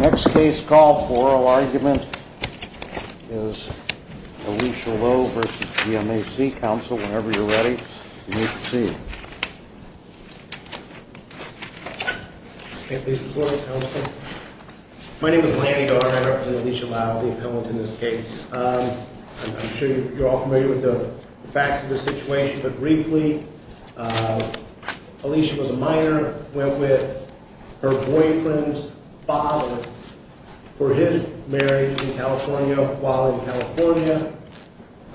Next case call for oral argument is Alicia Lowe v. GMAC. Counsel, whenever you're ready, you may proceed. Okay, please report, Counsel. My name is Lanny O'Hara. I represent Alicia Lowe, the appellant in this case. I'm sure you're all familiar with the facts of the situation, but briefly, Alicia was a minor, went with her boyfriend's father for his marriage in California. While in California,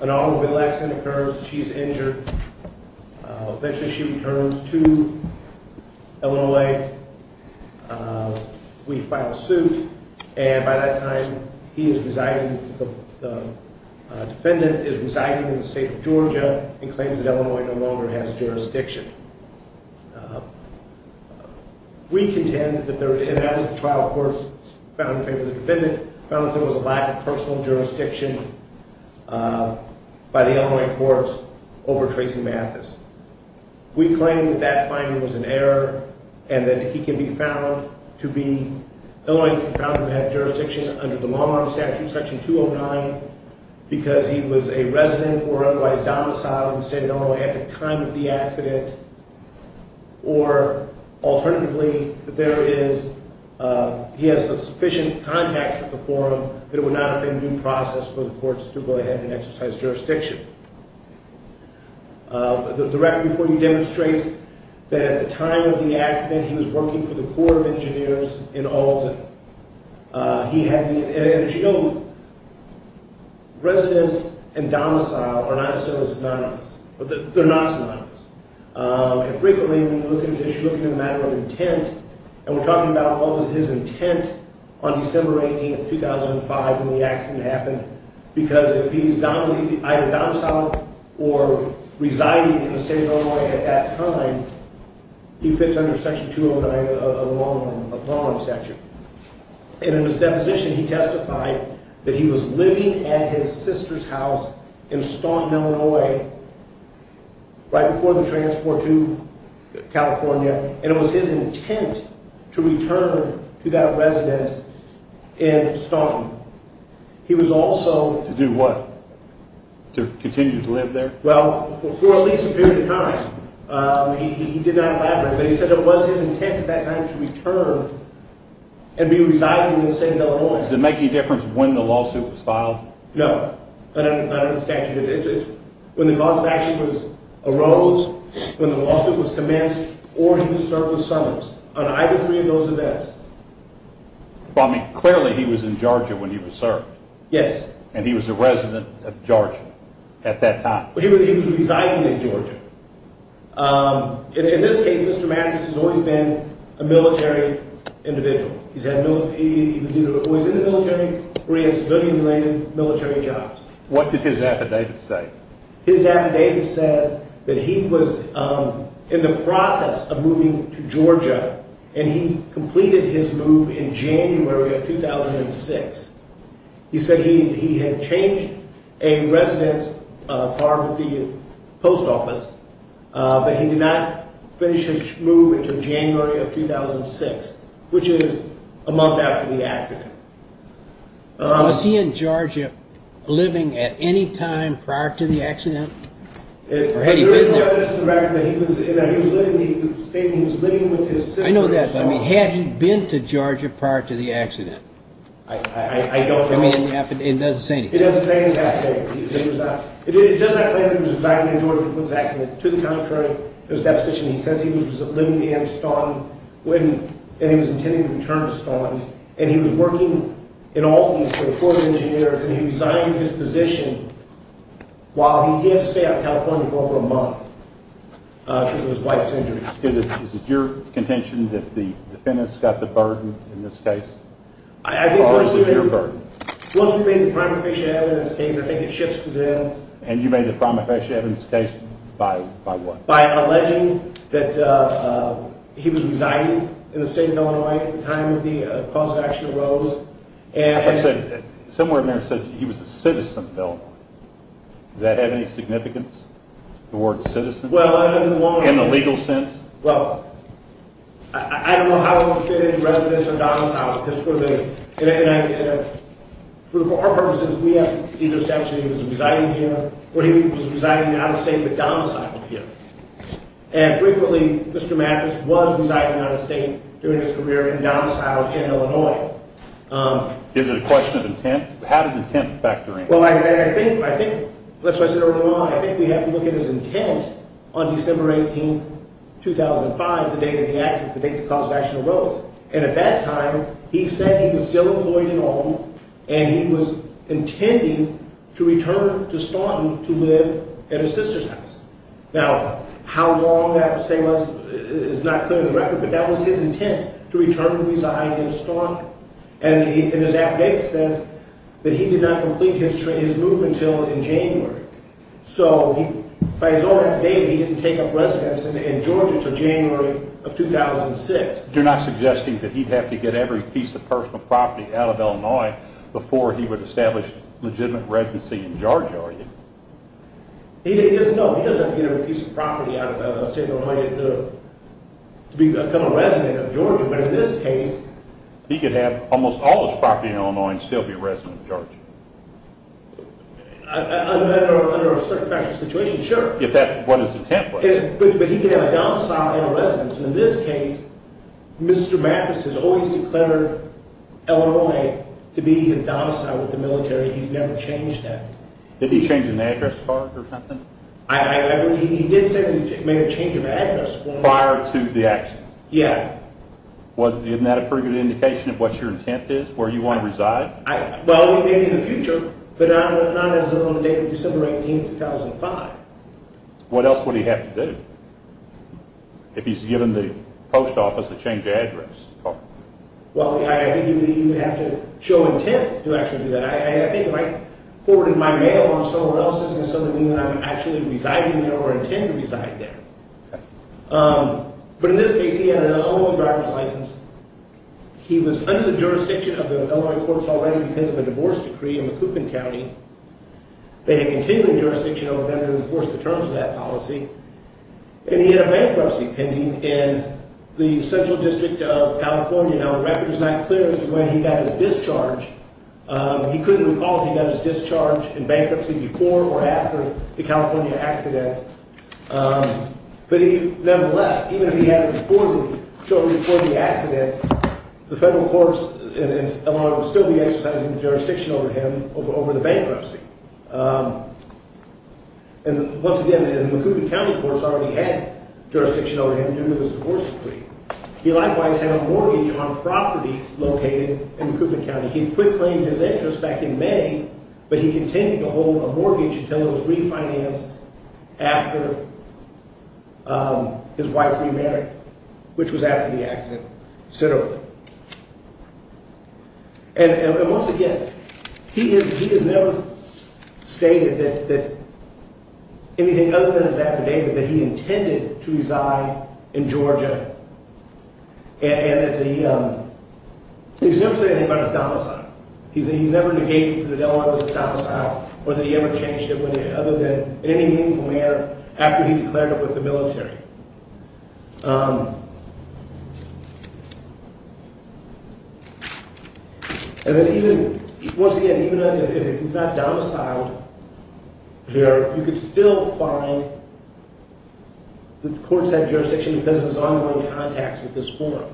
an automobile accident occurs. She's injured. Eventually, she returns to Illinois. We file a suit, and by that time, he is residing, the defendant is residing in the state of Georgia and claims that Illinois no longer has jurisdiction. We contend that there, and that was the trial court found in favor of the defendant, found that there was a lack of personal jurisdiction by the Illinois courts over Tracy Mathis. We claim that that finding was an error, and that he can be found to be, Illinois can be found to have jurisdiction under the Long Arm Statute, Section 209, because he was a resident or otherwise domiciled and said no at the time of the accident. Or, alternatively, there is, he has sufficient contact with the forum that it would not have been due process for the courts to go ahead and exercise jurisdiction. The record before you demonstrates that at the time of the accident, he was working for the Corps of Engineers in Alden. He had the, and as you know, residents and domicile are not synonymous. They're not synonymous. And frequently, when you look at an issue, you're looking at a matter of intent, and we're talking about what was his intent on December 18th, 2005, when the accident happened, because if he's either domiciled or residing in the state of Illinois at that time, he fits under Section 209 of the Long Arm Statute. And in his deposition, he testified that he was living at his sister's house in Staunton, Illinois, right before the transport to California, and it was his intent to return to that residence in Staunton. He was also… To do what? To continue to live there? Well, for at least a period of time. He did not elaborate, but he said it was his intent at that time to return and be residing in the state of Illinois. Does it make any difference when the lawsuit was filed? No. Not under the statute of interest. When the cause of action arose, when the lawsuit was commenced, or in the surplus summons, on either three of those events. Well, I mean, clearly he was in Georgia when he was served. Yes. And he was a resident of Georgia at that time. He was residing in Georgia. In this case, Mr. Mattis has always been a military individual. He was either always in the military, or he had civilian-related military jobs. What did his affidavit say? His affidavit said that he was in the process of moving to Georgia, and he completed his move in January of 2006. He said he had changed a residence card with the post office, but he did not finish his move until January of 2006, which is a month after the accident. Was he in Georgia living at any time prior to the accident? Or had he been there? The affidavit said that he was living with his sister in Staunton. I know that, but had he been to Georgia prior to the accident? I don't know. I mean, it doesn't say anything. It doesn't say anything. It does not say that he was residing in Georgia when it was an accident. To the contrary, there's deposition. He says he was living in Staunton, and he was intending to return to Staunton. And he was working in all these for the Corps of Engineers, and he resigned his position while he did stay out in California for over a month because of his wife's injuries. Is it your contention that the defendants got the burden in this case? Or was it your burden? Once we made the prima facie evidence case, I think it shifts to them. And you made the prima facie evidence case by what? By alleging that he was residing in the state of Illinois at the time of the cause of action arose. I thought you said somewhere in there it said he was a citizen of Illinois. Does that have any significance? The word citizen? In the legal sense? Well, I don't know how it would fit in residence or domicile. For our purposes, we asked if he was actually residing here, or he was residing out of state but domiciled here. And frequently, Mr. Mattis was residing out of state during his career and domiciled in Illinois. Is it a question of intent? How does intent factor in? Well, I think we have to look at his intent on December 18, 2005, the date of the accident, the date the cause of action arose. And at that time, he said he was still employed at home, and he was intending to return to Staunton to live at his sister's house. Now, how long that stay was is not clear on the record, but that was his intent, to return to reside in Staunton. And his affidavit says that he did not complete his move until in January. So, by his own affidavit, he didn't take up residence in Georgia until January of 2006. You're not suggesting that he'd have to get every piece of personal property out of Illinois before he would establish legitimate residency in Georgia, are you? No, he doesn't have to get every piece of property out of state of Illinois to become a resident of Georgia, but in this case… He could have almost all his property in Illinois and still be a resident of Georgia. Under a certain factual situation, sure. If that's what his intent was. But he could have a domicile and a residence, and in this case, Mr. Mathis has always declared Illinois to be his domicile with the military. He's never changed that. Did he change an address card or something? He did say that he made a change of address. Prior to the accident? Yeah. Wasn't that a pretty good indication of what your intent is, where you want to reside? Well, maybe in the future, but not as of the date of December 18, 2005. What else would he have to do? If he's given the post office a change of address card? Well, I think he would have to show intent to actually do that. I think if I forwarded my mail on somewhere else, it doesn't mean that I would actually reside in Illinois or intend to reside there. But in this case, he had an Illinois driver's license. He was under the jurisdiction of the Illinois Courts already because of a divorce decree in the Coopan County. They had continuing jurisdiction over them to enforce the terms of that policy, and he had a bankruptcy pending in the Central District of California. Now, the record is not clear as to when he got his discharge. He couldn't recall if he got his discharge in bankruptcy before or after the California accident. But nevertheless, even if he had it shortly before the accident, the federal courts in Illinois would still be exercising jurisdiction over him over the bankruptcy. And once again, the Coopan County courts already had jurisdiction over him due to this divorce decree. He likewise had a mortgage on property located in Coopan County. He quit claiming his interest back in May, but he continued to hold a mortgage until it was refinanced after his wife remarried, which was after the accident, considerably. And once again, he has never stated that anything other than his affidavit that he intended to reside in Georgia, and that he's never said anything about his domicile. He's never negated that the Illinois was his domicile or that he ever changed it, other than in any meaningful manner, after he declared it with the military. And then even, once again, even if he's not domiciled here, you could still find that the courts had jurisdiction because of his ongoing contacts with this forum.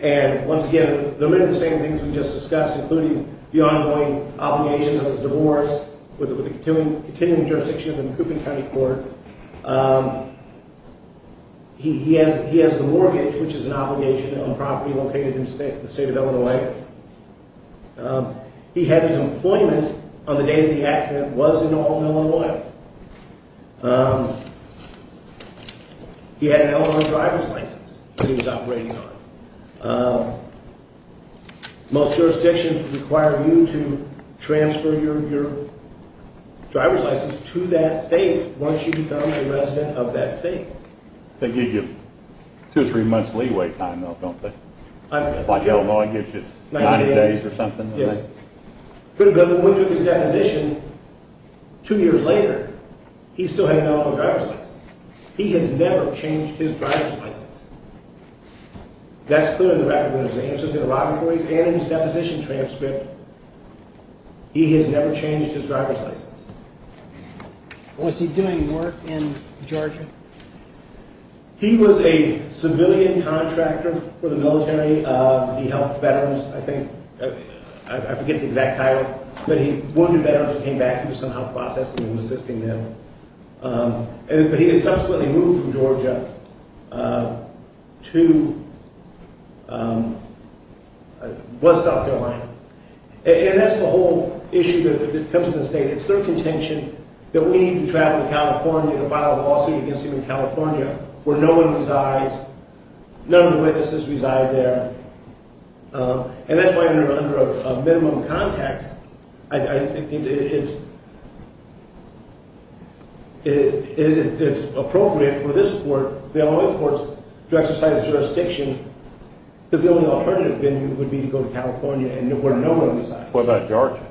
And once again, there are many of the same things we just discussed, including the ongoing obligations of his divorce with the continuing jurisdiction of the Coopan County court. He has the mortgage, which is an obligation on property located in the state of Illinois. He had his employment on the day that the accident was in all Illinois. He had an Illinois driver's license that he was operating on. Most jurisdictions require you to transfer your driver's license to that state once you become a resident of that state. They give you two or three months leeway time, though, don't they? Like Illinois gives you 90 days or something? Yes. But when he took his deposition two years later, he still had an Illinois driver's license. He has never changed his driver's license. That's clear in the record with his answers in the laboratories and in his deposition transcript. He has never changed his driver's license. Was he doing work in Georgia? He was a civilian contractor for the military. He helped veterans, I think. I forget the exact title, but he wounded veterans and came back to do some health processing and was assisting them. But he was subsequently moved from Georgia to West South Carolina. And that's the whole issue that comes to the state. It's their contention that we need to travel to California to file a lawsuit against them in California where no one resides, none of the witnesses reside there. And that's why under a minimum context, I think it's appropriate for this court, the Illinois courts, to exercise jurisdiction. Because the only alternative would be to go to California where no one resides. What about Georgia?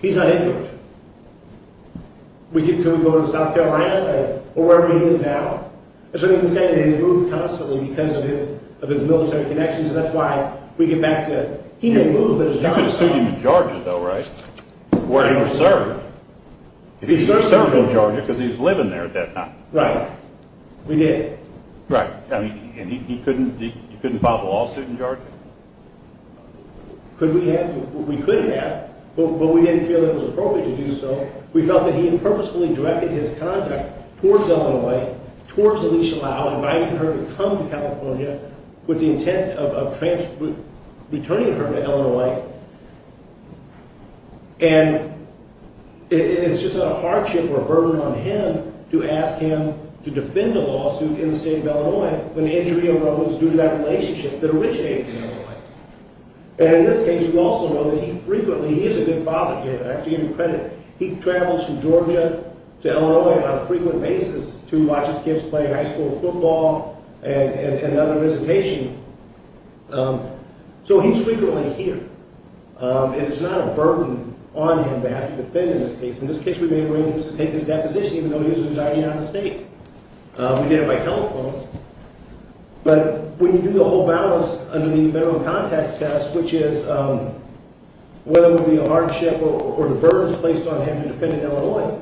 He's not in Georgia. Can we go to South Carolina or wherever he is now? This guy didn't move constantly because of his military connections, and that's why we get back to he didn't move, but his driver did. You could have sued him in Georgia, though, right? Where he was serving. He served in Georgia because he was living there at that time. Right. We did. Right. And you couldn't file the lawsuit in Georgia? Could we have? We could have, but we didn't feel it was appropriate to do so. We felt that he purposefully directed his contact towards Illinois, towards Alicia Lau, inviting her to come to California with the intent of returning her to Illinois. And it's just a hardship or a burden on him to ask him to defend a lawsuit in the state of Illinois when the injury arose due to that relationship that originated in Illinois. And in this case, we also know that he frequently, he is a good father here. I have to give him credit. He travels from Georgia to Illinois on a frequent basis to watch his kids play high school football and other visitation, so he's frequently here. And it's not a burden on him to have to defend in this case. In this case, we made arrangements to take his deposition, even though he was residing out of the state. We did it by telephone. But when you do the whole balance under the minimum contacts test, which is whether it would be a hardship or a burden placed on him to defend in Illinois,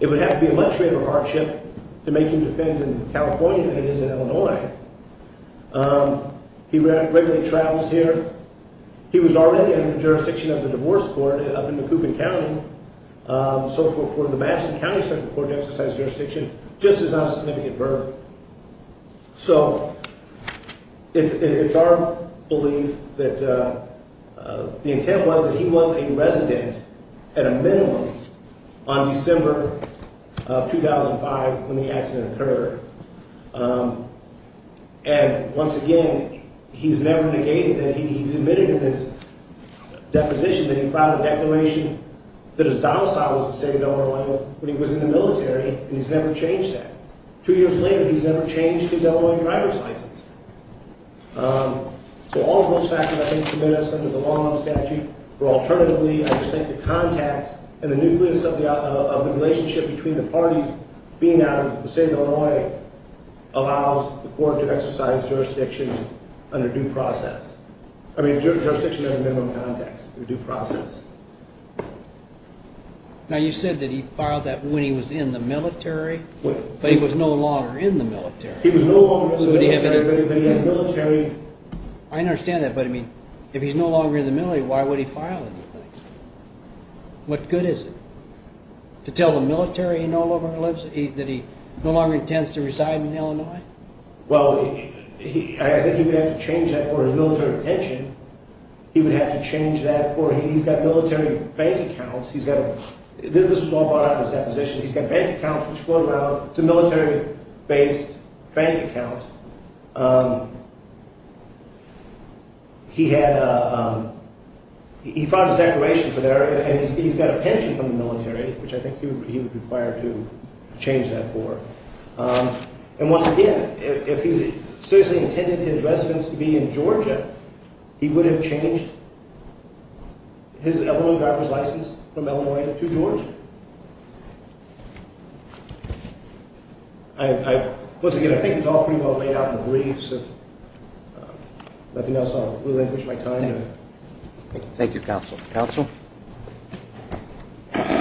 it would have to be a much greater hardship to make him defend in California than it is in Illinois. He regularly travels here. He was already in the jurisdiction of the divorce court up in Macoupin County, so for the Madison County Supreme Court to exercise jurisdiction just is not a significant burden. So it's our belief that the intent was that he was a resident at a minimum on December of 2005 when the accident occurred. And once again, he's never negated that he's admitted in his deposition that he filed a declaration that his domicile was the state of Illinois when he was in the military, and he's never changed that. Two years later, he's never changed his Illinois driver's license. So all of those factors, I think, commit us under the law and statute, where alternatively, I just think the contacts and the nucleus of the relationship between the parties being out of the state of Illinois allows the court to exercise jurisdiction under due process. I mean, jurisdiction under minimum contacts, under due process. Now, you said that he filed that when he was in the military, but he was no longer in the military. I understand that, but, I mean, if he's no longer in the military, why would he file anything? What good is it? To tell the military he no longer lives, that he no longer intends to reside in Illinois? Well, I think he would have to change that for his military pension. He would have to change that for, he's got military bank accounts. This was all brought up in his deposition. He's got bank accounts, which float around. It's a military-based bank account. He had, he filed his declaration for there, and he's got a pension from the military, which I think he would require to change that for. And once again, if he seriously intended his residence to be in Georgia, he would have changed his Illinois driver's license from Illinois to Georgia. I, once again, I think it's all pretty well laid out in the briefs. If nothing else, I'll relinquish my time. Thank you, counsel. Counsel? Thank you.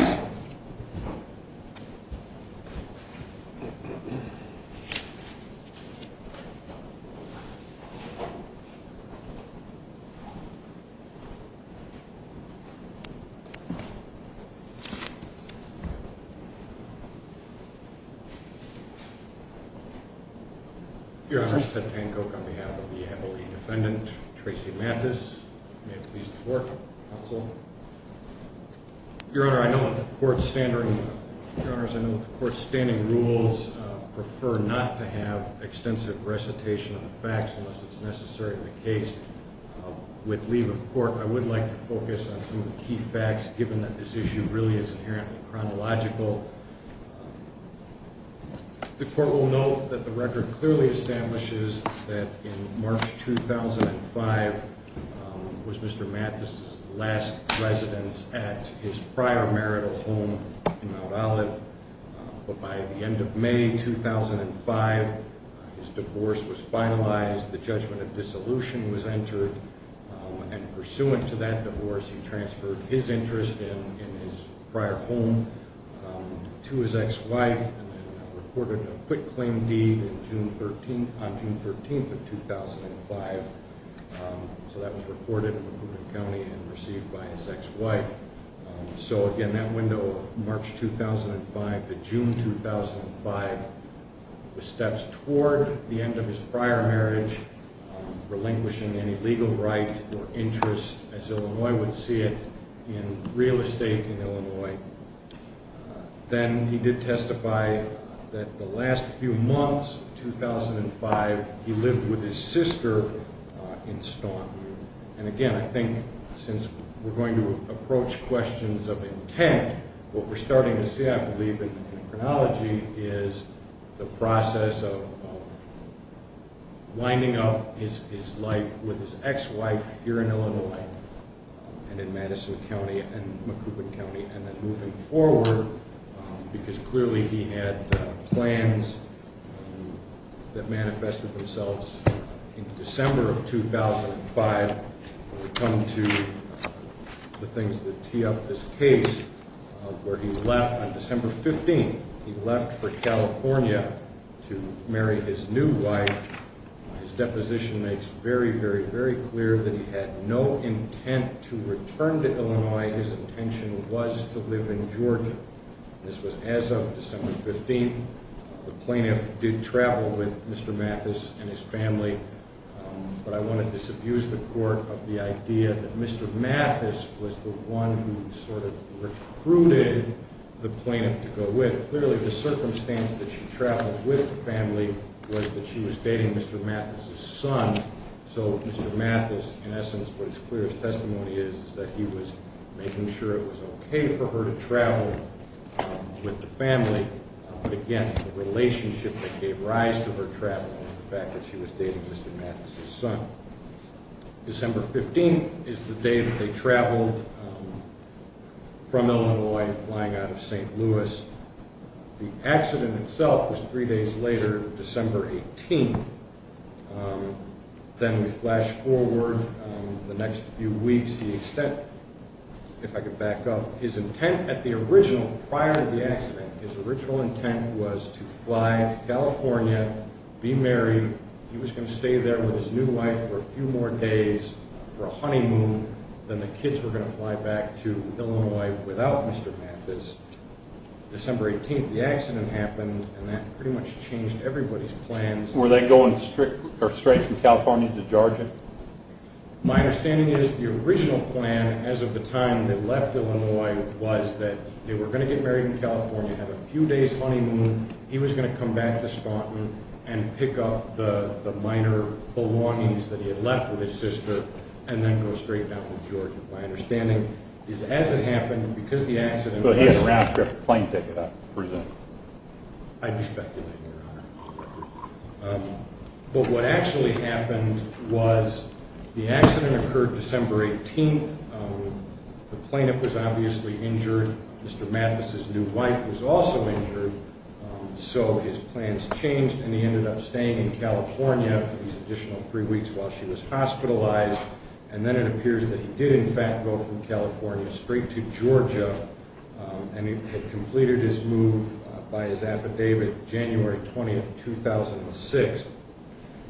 Your Honor, Ted Tancoke on behalf of the Emily defendant, Tracy Mathis. May it please the court, counsel. Your Honor, I know that the court's standard, Your Honors, I know that the court's standing rules prefer not to have extensive recitation of the facts unless it's necessary in the case. With leave of court, I would like to focus on some of the key facts, given that this issue really is inherently chronological. The court will note that the record clearly establishes that in March 2005 was Mr. Mathis' last residence at his prior marital home in Mount Olive. But by the end of May 2005, his divorce was finalized, the judgment of dissolution was entered. And pursuant to that divorce, he transferred his interest in his prior home to his ex-wife and reported a quitclaim deed on June 13th of 2005. So that was reported in the County and received by his ex-wife. So again, that window of March 2005 to June 2005, the steps toward the end of his prior marriage, relinquishing any legal rights or interests as Illinois would see it in real estate in Illinois. Then he did testify that the last few months of 2005, he lived with his sister in Staunton. And again, I think since we're going to approach questions of intent, what we're starting to see, I believe, in the chronology is the process of winding up his life with his ex-wife here in Illinois and in Madison County and in Macoupin County. And then moving forward, because clearly he had plans that manifested themselves in December of 2005, we come to the things that tee up this case. Where he left on December 15th, he left for California to marry his new wife. His deposition makes very, very, very clear that he had no intent to return to Illinois. His intention was to live in Georgia. This was as of December 15th. The plaintiff did travel with Mr. Mathis and his family. But I want to disabuse the court of the idea that Mr. Mathis was the one who sort of recruited the plaintiff to go with. Clearly, the circumstance that she traveled with the family was that she was dating Mr. Mathis' son. So Mr. Mathis, in essence, what his clearest testimony is, is that he was making sure it was okay for her to travel with the family. But again, the relationship that gave rise to her traveling was the fact that she was dating Mr. Mathis' son. December 15th is the day that they traveled from Illinois, flying out of St. Louis. The accident itself was three days later, December 18th. Then we flash forward the next few weeks to the extent, if I could back up, his intent at the original, prior to the accident, his original intent was to fly to California, be married. He was going to stay there with his new wife for a few more days for a honeymoon. Then the kids were going to fly back to Illinois without Mr. Mathis. December 18th, the accident happened, and that pretty much changed everybody's plans. Were they going straight from California to Georgia? My understanding is the original plan, as of the time they left Illinois, was that they were going to get married in California, have a few days' honeymoon, he was going to come back to Spaunton and pick up the minor belongings that he had left with his sister, and then go straight down to Georgia. My understanding is, as it happened, because the accident was... But he had a round-trip plane ticket, I presume. I'd be speculating, Your Honor. But what actually happened was the accident occurred December 18th. The plaintiff was obviously injured. Mr. Mathis' new wife was also injured. So his plans changed, and he ended up staying in California for these additional three weeks while she was hospitalized. And then it appears that he did, in fact, go from California straight to Georgia, and he had completed his move by his affidavit January 20th, 2006.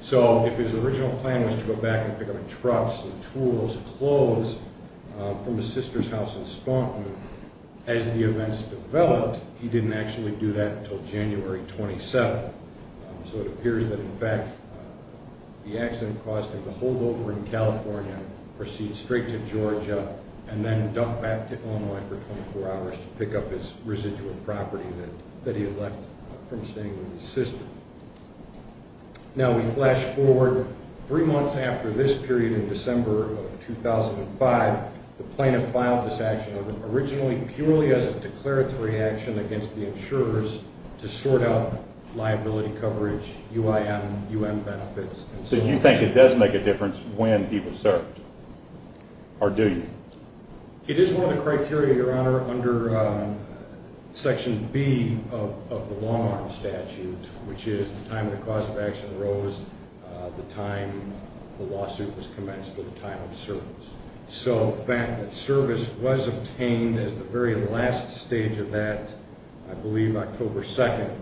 So if his original plan was to go back and pick up the trucks and tools and clothes from his sister's house in Spaunton, as the events developed, he didn't actually do that until January 27th. So it appears that, in fact, the accident caused him to hold over in California, proceed straight to Georgia, and then duck back to Illinois for 24 hours to pick up his residual property that he had left from staying with his sister. Now we flash forward three months after this period in December of 2005. The plaintiff filed this action order, originally purely as a declaratory action against the insurers, to sort out liability coverage, UIM, UM benefits, and so forth. So you say it does make a difference when he was served, or do you? It is one of the criteria, Your Honor, under Section B of the long-arm statute, which is the time the cause of action arose, the time the lawsuit was commenced, or the time of service. So the fact that service was obtained as the very last stage of that, I believe October 2nd,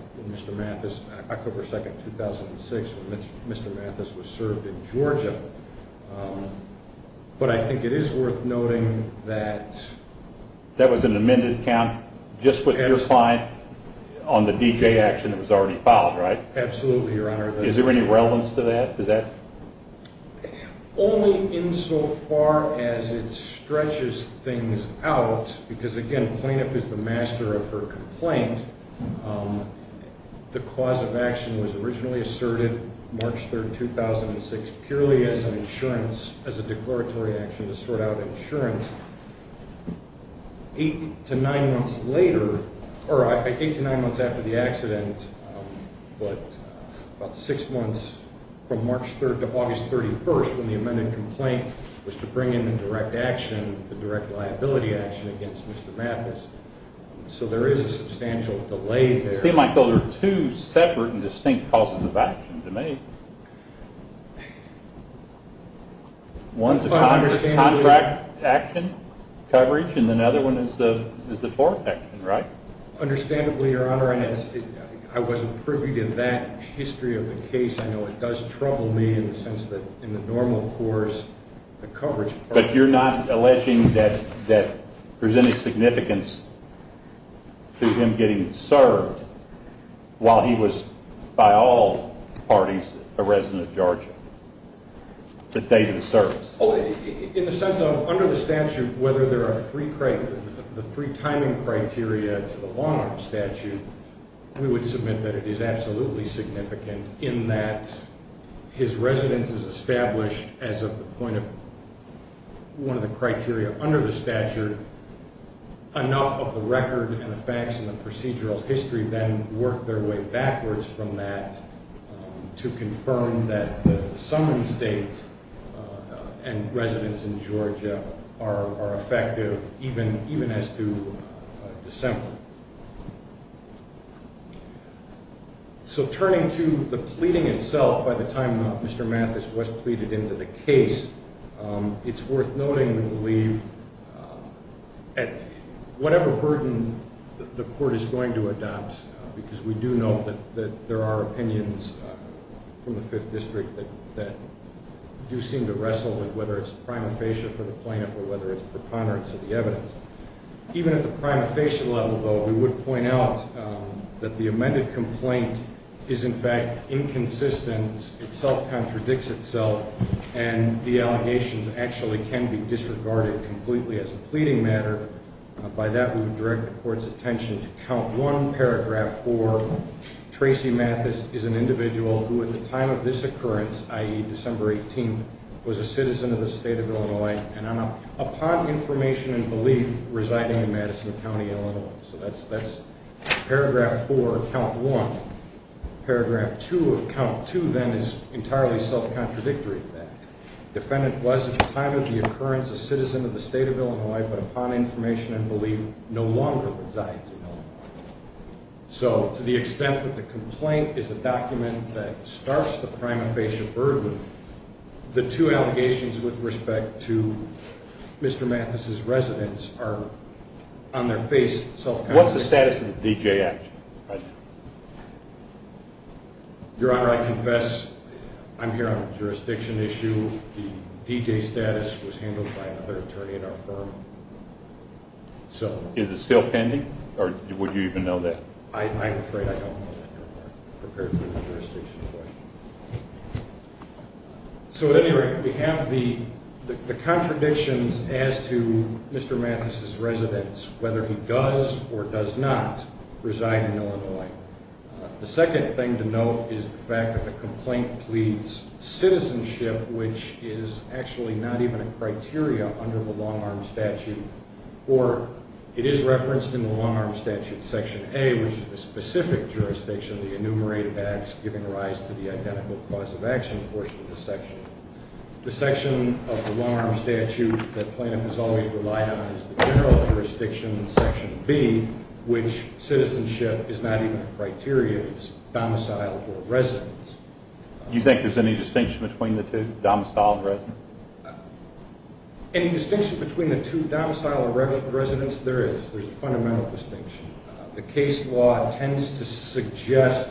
2006, when Mr. Mathis was served in Georgia. But I think it is worth noting that... That was an amended count just with your client on the D.J. action that was already filed, right? Absolutely, Your Honor. Is there any relevance to that? Only insofar as it stretches things out, because, again, the plaintiff is the master of her complaint. The cause of action was originally asserted March 3rd, 2006, purely as an insurance, as a declaratory action to sort out insurance. Eight to nine months later, or eight to nine months after the accident, but about six months from March 3rd to August 31st, when the amended complaint was to bring in the direct action, the direct liability action against Mr. Mathis. So there is a substantial delay there. See, Michael, there are two separate and distinct causes of action to make. One is a contract action coverage, and another one is the tort action, right? Understandably, Your Honor, I wasn't privy to that history of the case. I know it does trouble me in the sense that in the normal course, the coverage... But you're not alleging that there's any significance to him getting served while he was, by all parties, a resident of Georgia the day of the service? In the sense of under the statute, whether there are three timing criteria to the long-arm statute, we would submit that it is absolutely significant in that his residence is established as of the point of one of the criteria under the statute. Enough of the record and the facts and the procedural history then work their way backwards from that to confirm that the summoned state and residence in Georgia are effective even as to December. So turning to the pleading itself, by the time Mr. Mathis was pleaded into the case, it's worth noting, we believe, at whatever burden the court is going to adopt, because we do know that there are opinions from the Fifth District that do seem to wrestle with whether it's prima facie for the plaintiff or whether it's preponderance of the evidence. Even at the prima facie level, though, we would point out that the amended complaint is, in fact, inconsistent. It self-contradicts itself, and the allegations actually can be disregarded completely as a pleading matter. By that, we would direct the court's attention to count one paragraph for Tracy Mathis is an individual who, at the time of this occurrence, i.e., December 18th, was a citizen of the state of Illinois. And upon information and belief, residing in Madison County, Illinois. So that's paragraph four, count one. Paragraph two of count two, then, is entirely self-contradictory. The defendant was, at the time of the occurrence, a citizen of the state of Illinois, but upon information and belief, no longer resides in Illinois. So to the extent that the complaint is a document that starts the prima facie burden, the two allegations with respect to Mr. Mathis' residence are, on their face, self-contradictory. What's the status of the D.J. action? Your Honor, I confess I'm here on a jurisdiction issue. The D.J. status was handled by another attorney at our firm. Is it still pending, or would you even know that? I'm afraid I don't know that, Your Honor, compared to the jurisdiction question. So at any rate, we have the contradictions as to Mr. Mathis' residence, whether he does or does not reside in Illinois. The second thing to note is the fact that the complaint pleads citizenship, which is actually not even a criteria under the long-arm statute. Or it is referenced in the long-arm statute section A, which is the specific jurisdiction, the enumerated acts giving rise to the identical cause of action portion of the section. The section of the long-arm statute that plaintiff has always relied on is the general jurisdiction section B, which citizenship is not even a criteria. It's domiciled or residence. Do you think there's any distinction between the two, domiciled or residence? Any distinction between the two, domiciled or residence, there is. There's a fundamental distinction. The case law tends to suggest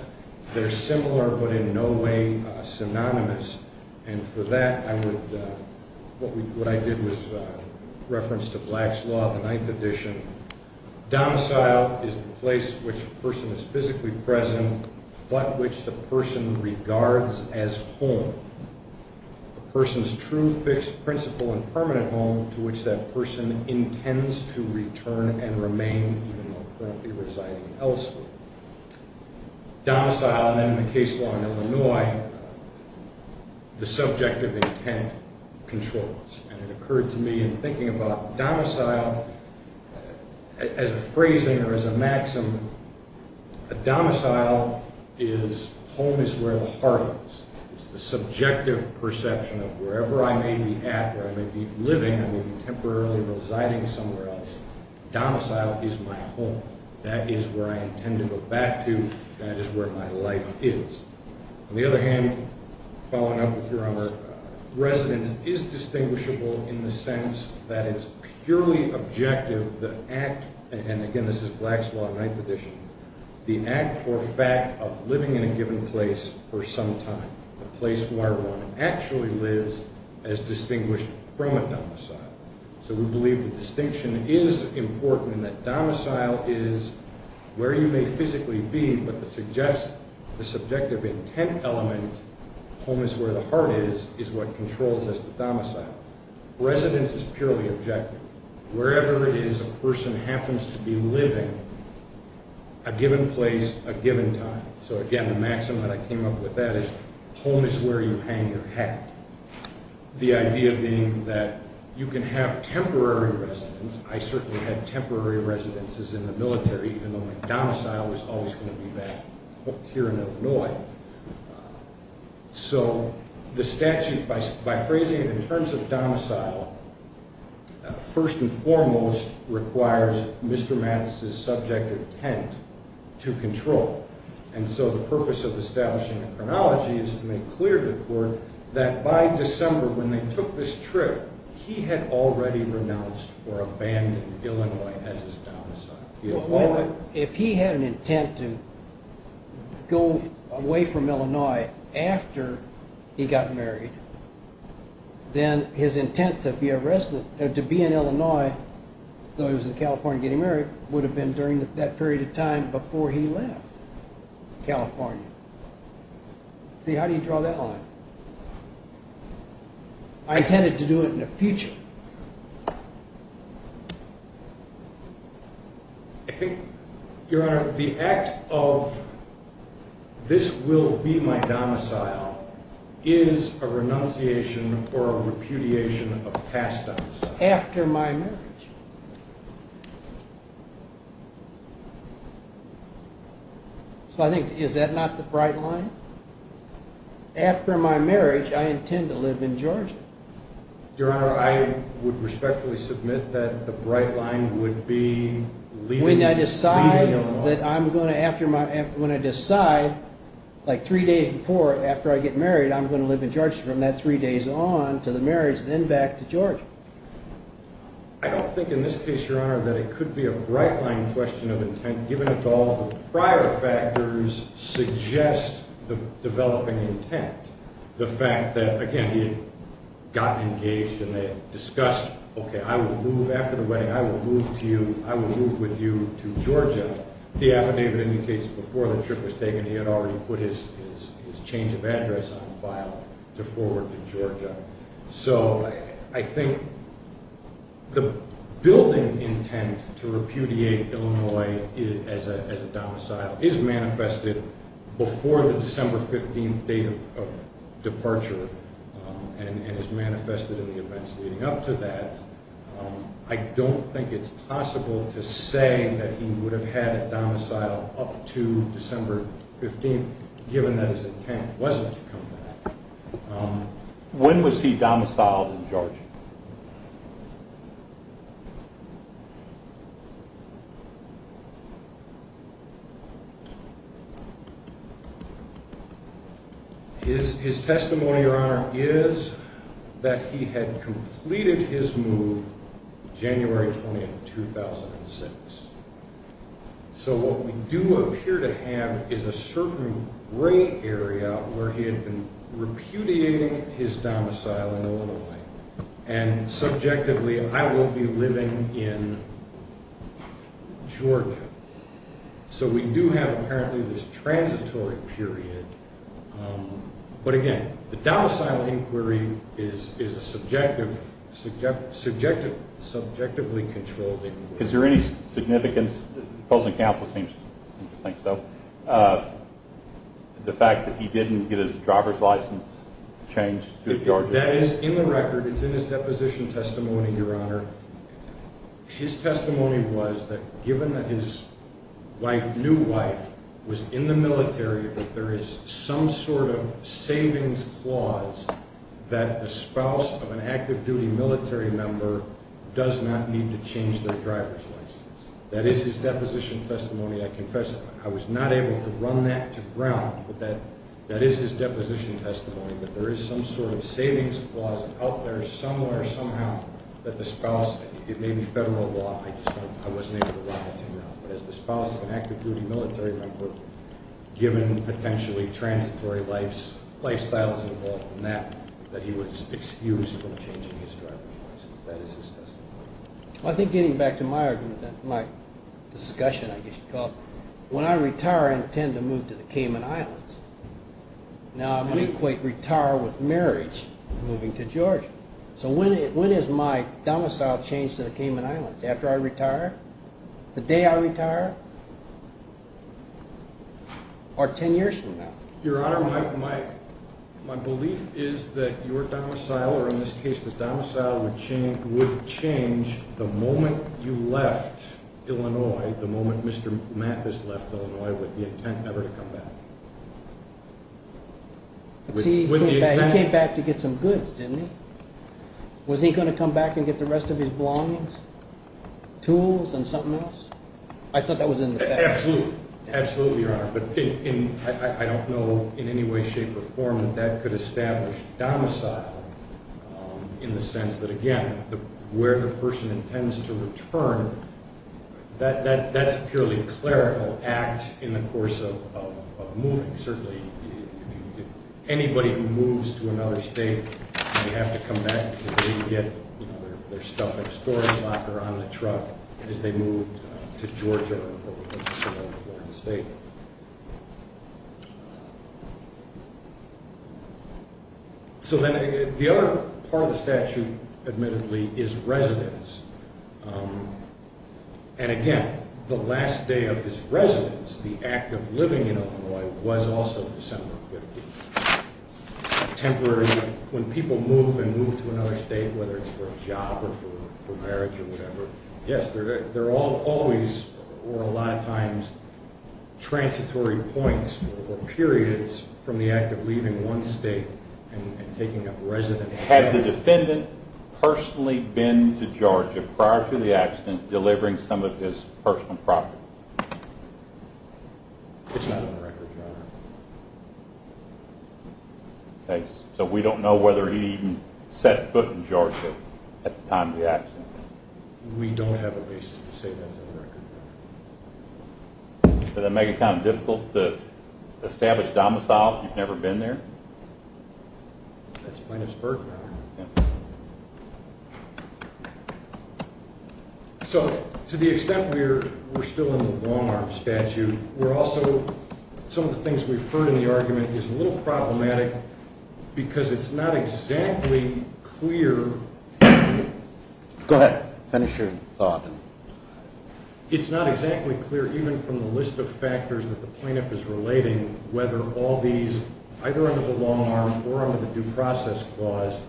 they're similar but in no way synonymous. And for that, what I did was reference to Black's Law, the ninth edition. Domicile is the place which a person is physically present but which the person regards as home. A person's true, fixed, principal, and permanent home to which that person intends to return and remain, even though currently residing elsewhere. Domicile, then in the case law in Illinois, the subjective intent controls. And it occurred to me in thinking about domicile as a phrasing or as a maxim, a domicile is home is where the heart is. It's the subjective perception of wherever I may be at, where I may be living, I may be temporarily residing somewhere else. Domicile is my home. That is where I intend to go back to. That is where my life is. On the other hand, following up with your honor, residence is distinguishable in the sense that it's purely objective. And again, this is Black's Law, ninth edition. The act or fact of living in a given place for some time, a place where one actually lives, is distinguished from a domicile. So we believe that distinction is important and that domicile is where you may physically be, but that suggests the subjective intent element, home is where the heart is, is what controls as the domicile. Residence is purely objective. Wherever it is a person happens to be living, a given place, a given time. So again, the maxim that I came up with that is home is where you hang your hat. The idea being that you can have temporary residence. I certainly had temporary residences in the military, even though my domicile was always going to be back here in Illinois. So the statute, by phrasing it in terms of domicile, first and foremost requires Mr. Mathis's subjective intent to control. And so the purpose of establishing a chronology is to make clear to the court that by December when they took this trip, he had already renounced or abandoned Illinois as his domicile. If he had an intent to go away from Illinois after he got married, then his intent to be in Illinois, though he was in California getting married, would have been during that period of time before he left California. See, how do you draw that line? I intended to do it in the future. I think, Your Honor, the act of this will be my domicile is a renunciation or a repudiation of past domiciles. After my marriage. So I think, is that not the bright line? After my marriage, I intend to live in Georgia. Your Honor, I would respectfully submit that the bright line would be leaving Illinois. When I decide, like three days before after I get married, I'm going to live in Georgia from that three days on to the marriage, then back to Georgia. I don't think in this case, Your Honor, that it could be a bright line question of intent given that all the prior factors suggest the developing intent. The fact that, again, he had gotten engaged and they had discussed, okay, I will move after the wedding, I will move with you to Georgia. The affidavit indicates before the trip was taken, he had already put his change of address on file to forward to Georgia. So I think the building intent to repudiate Illinois as a domicile is manifested before the December 15th date of departure and is manifested in the events leading up to that. I don't think it's possible to say that he would have had a domicile up to December 15th given that his intent wasn't to come back. When was he domiciled in Georgia? His testimony, Your Honor, is that he had completed his move January 20th, 2006. So what we do appear to have is a certain gray area where he had been repudiating his domicile in Illinois and subjectively, I will be living in Georgia. So we do have apparently this transitory period. But again, the domicile inquiry is a subjectively controlled inquiry. Is there any significance, opposing counsel seems to think so, the fact that he didn't get his driver's license changed to Georgia? That is in the record. It's in his deposition testimony, Your Honor. His testimony was that given that his wife, new wife, was in the military, that there is some sort of savings clause that the spouse of an active-duty military member does not need to change their driver's license. That is his deposition testimony. I confess I was not able to run that to ground, but that is his deposition testimony, that there is some sort of savings clause out there somewhere, somehow, that the spouse of an active-duty military member, given potentially transitory lifestyles involved in that, that he was excused from changing his driver's license. That is his testimony. I think getting back to my argument, my discussion, I guess you'd call it, when I retire, I intend to move to the Cayman Islands. Now, I'm going to equate retire with marriage, moving to Georgia. So when is my domicile changed to the Cayman Islands? After I retire? The day I retire? Or 10 years from now? Your Honor, my belief is that your domicile, or in this case the domicile, would change the moment you left Illinois, the moment Mr. Mathis left Illinois, with the intent never to come back. He came back to get some goods, didn't he? Was he going to come back and get the rest of his belongings, tools, and something else? I thought that was in the fact. Absolutely. Absolutely, Your Honor. But I don't know in any way, shape, or form that that could establish domicile in the sense that, again, where the person intends to return, that's a purely clerical act in the course of moving. Certainly, anybody who moves to another state, they have to come back because they can get their stuff in a storage locker on a truck as they move to Georgia or some other foreign state. So then the other part of the statute, admittedly, is residence. And again, the last day of his residence, the act of living in Illinois, was also December 15th. Temporary, when people move and move to another state, whether it's for a job or for marriage or whatever, yes, there are always, or a lot of times, transitory points or periods from the act of leaving one state and taking up residence. Had the defendant personally been to Georgia prior to the accident delivering some of his personal property? It's not on the record, Your Honor. So we don't know whether he even set foot in Georgia at the time of the accident? We don't have a basis to say that's on the record. Does that make it kind of difficult to establish domicile if you've never been there? So to the extent we're still in the long-arm statute, we're also, some of the things we've heard in the argument is a little problematic because it's not exactly clear. Go ahead. Finish your thought. It's not exactly clear, even from the list of factors that the plaintiff is relating, whether all these, either under the long-arm or under the due process clause,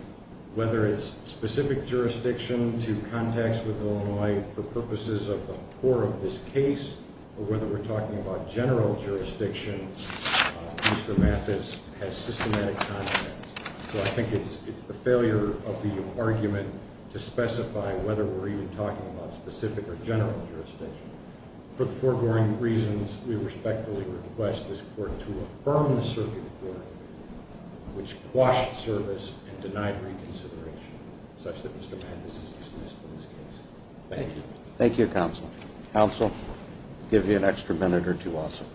whether it's specific jurisdiction to contacts with Illinois for purposes of the core of this case, or whether we're talking about general jurisdiction, Mr. Mathis has systematic contacts. So I think it's the failure of the argument to specify whether we're even talking about specific or general jurisdiction. For the foregoing reasons, we respectfully request this Court to affirm the circuit court, which quashed service and denied reconsideration, such that Mr. Mathis is dismissed from this case. Thank you. Thank you, Counsel. Counsel, give you an extra minute or two also.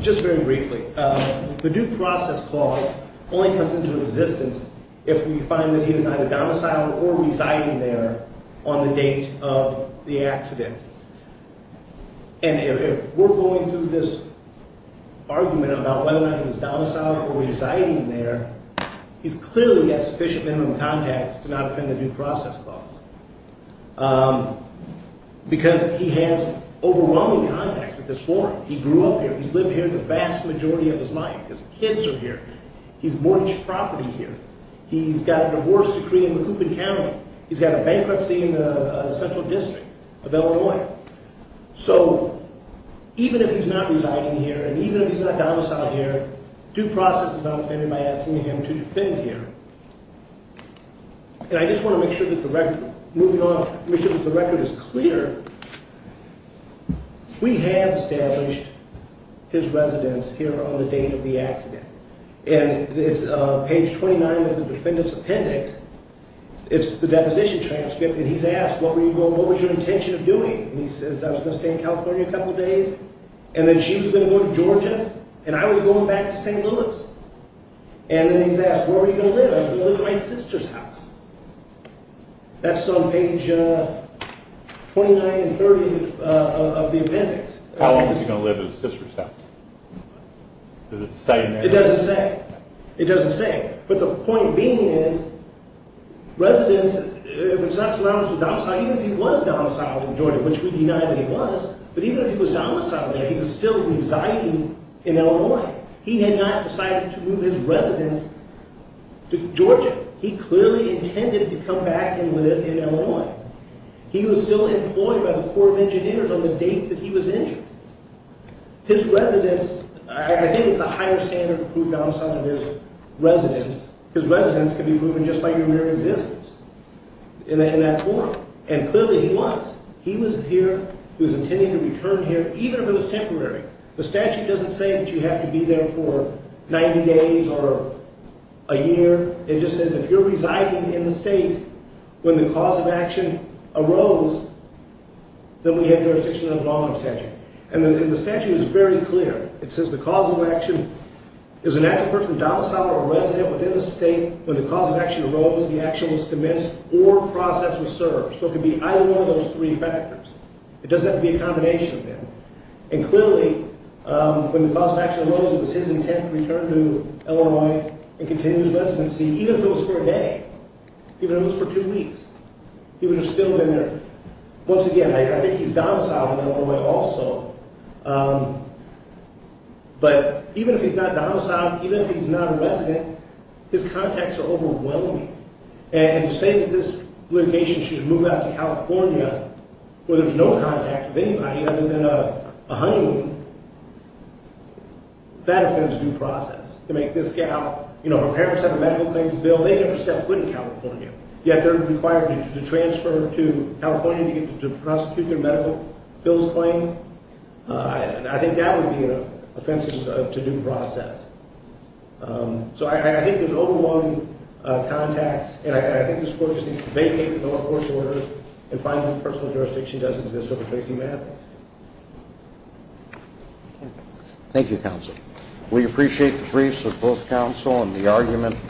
Just very briefly, the due process clause only comes into existence if we find that he is not a domicile or residing there on the date of the accident. And if we're going through this argument about whether or not he's a domicile or residing there, he's clearly got sufficient minimum contacts to not offend the due process clause. Because he has overwhelming contacts with this forum. He grew up here. He's lived here the vast majority of his life. His kids are here. He's mortgaged property here. He's got a divorce decree in Macoupin County. He's got a bankruptcy in the Central District of Illinois. So even if he's not residing here and even if he's not a domicile here, due process is not offended by asking him to defend here. And I just want to make sure that the record is clear. We have established his residence here on the date of the accident. And it's page 29 of the defendant's appendix. It's the deposition transcript. And he's asked, what were you going to do? What was your intention of doing? And he says, I was going to stay in California a couple of days. And then she was going to go to Georgia. And I was going back to St. Louis. And then he's asked, where were you going to live? I was going to live at my sister's house. That's on page 29 and 30 of the appendix. How long was he going to live at his sister's house? Does it say in there? It doesn't say. It doesn't say. But the point being is, residence, if it's not surrounded with domicile, even if he was domiciled in Georgia, which we deny that he was, but even if he was domiciled there, he was still residing in Illinois. He had not decided to move his residence to Georgia. He clearly intended to come back and live in Illinois. He was still employed by the Corps of Engineers on the date that he was injured. His residence, I think it's a higher standard to prove domicile of his residence, because residence can be proven just by your mere existence in that court. And clearly he was. He was here. He was intending to return here, even if it was temporary. The statute doesn't say that you have to be there for 90 days or a year. It just says if you're residing in the state when the cause of action arose, then we have jurisdiction of the law in the statute. And the statute is very clear. It says the cause of action is a natural person domiciled or resident within the state. When the cause of action arose, the action was commenced or process was served. So it could be either one of those three factors. It doesn't have to be a combination of them. And clearly when the cause of action arose, it was his intent to return to Illinois and continue his residency, even if it was for a day, even if it was for two weeks. He would have still been there. Once again, I think he's domiciled in Illinois also. But even if he's not domiciled, even if he's not a resident, his contacts are overwhelming. And to say that this litigation should move out to California where there's no contact with anybody other than a honeymoon, that offends due process. To make this gal, you know, her parents have a medical claims bill. They never stepped foot in California, yet they're required to transfer to California to prosecute their medical bills claim. I think that would be offensive to due process. So I think there's overwhelming contacts. And I think this court just needs to vacate the court's order and find some personal jurisdiction that doesn't exist over Tracy Mathis. Thank you, counsel. We appreciate the briefs of both counsel and the argument.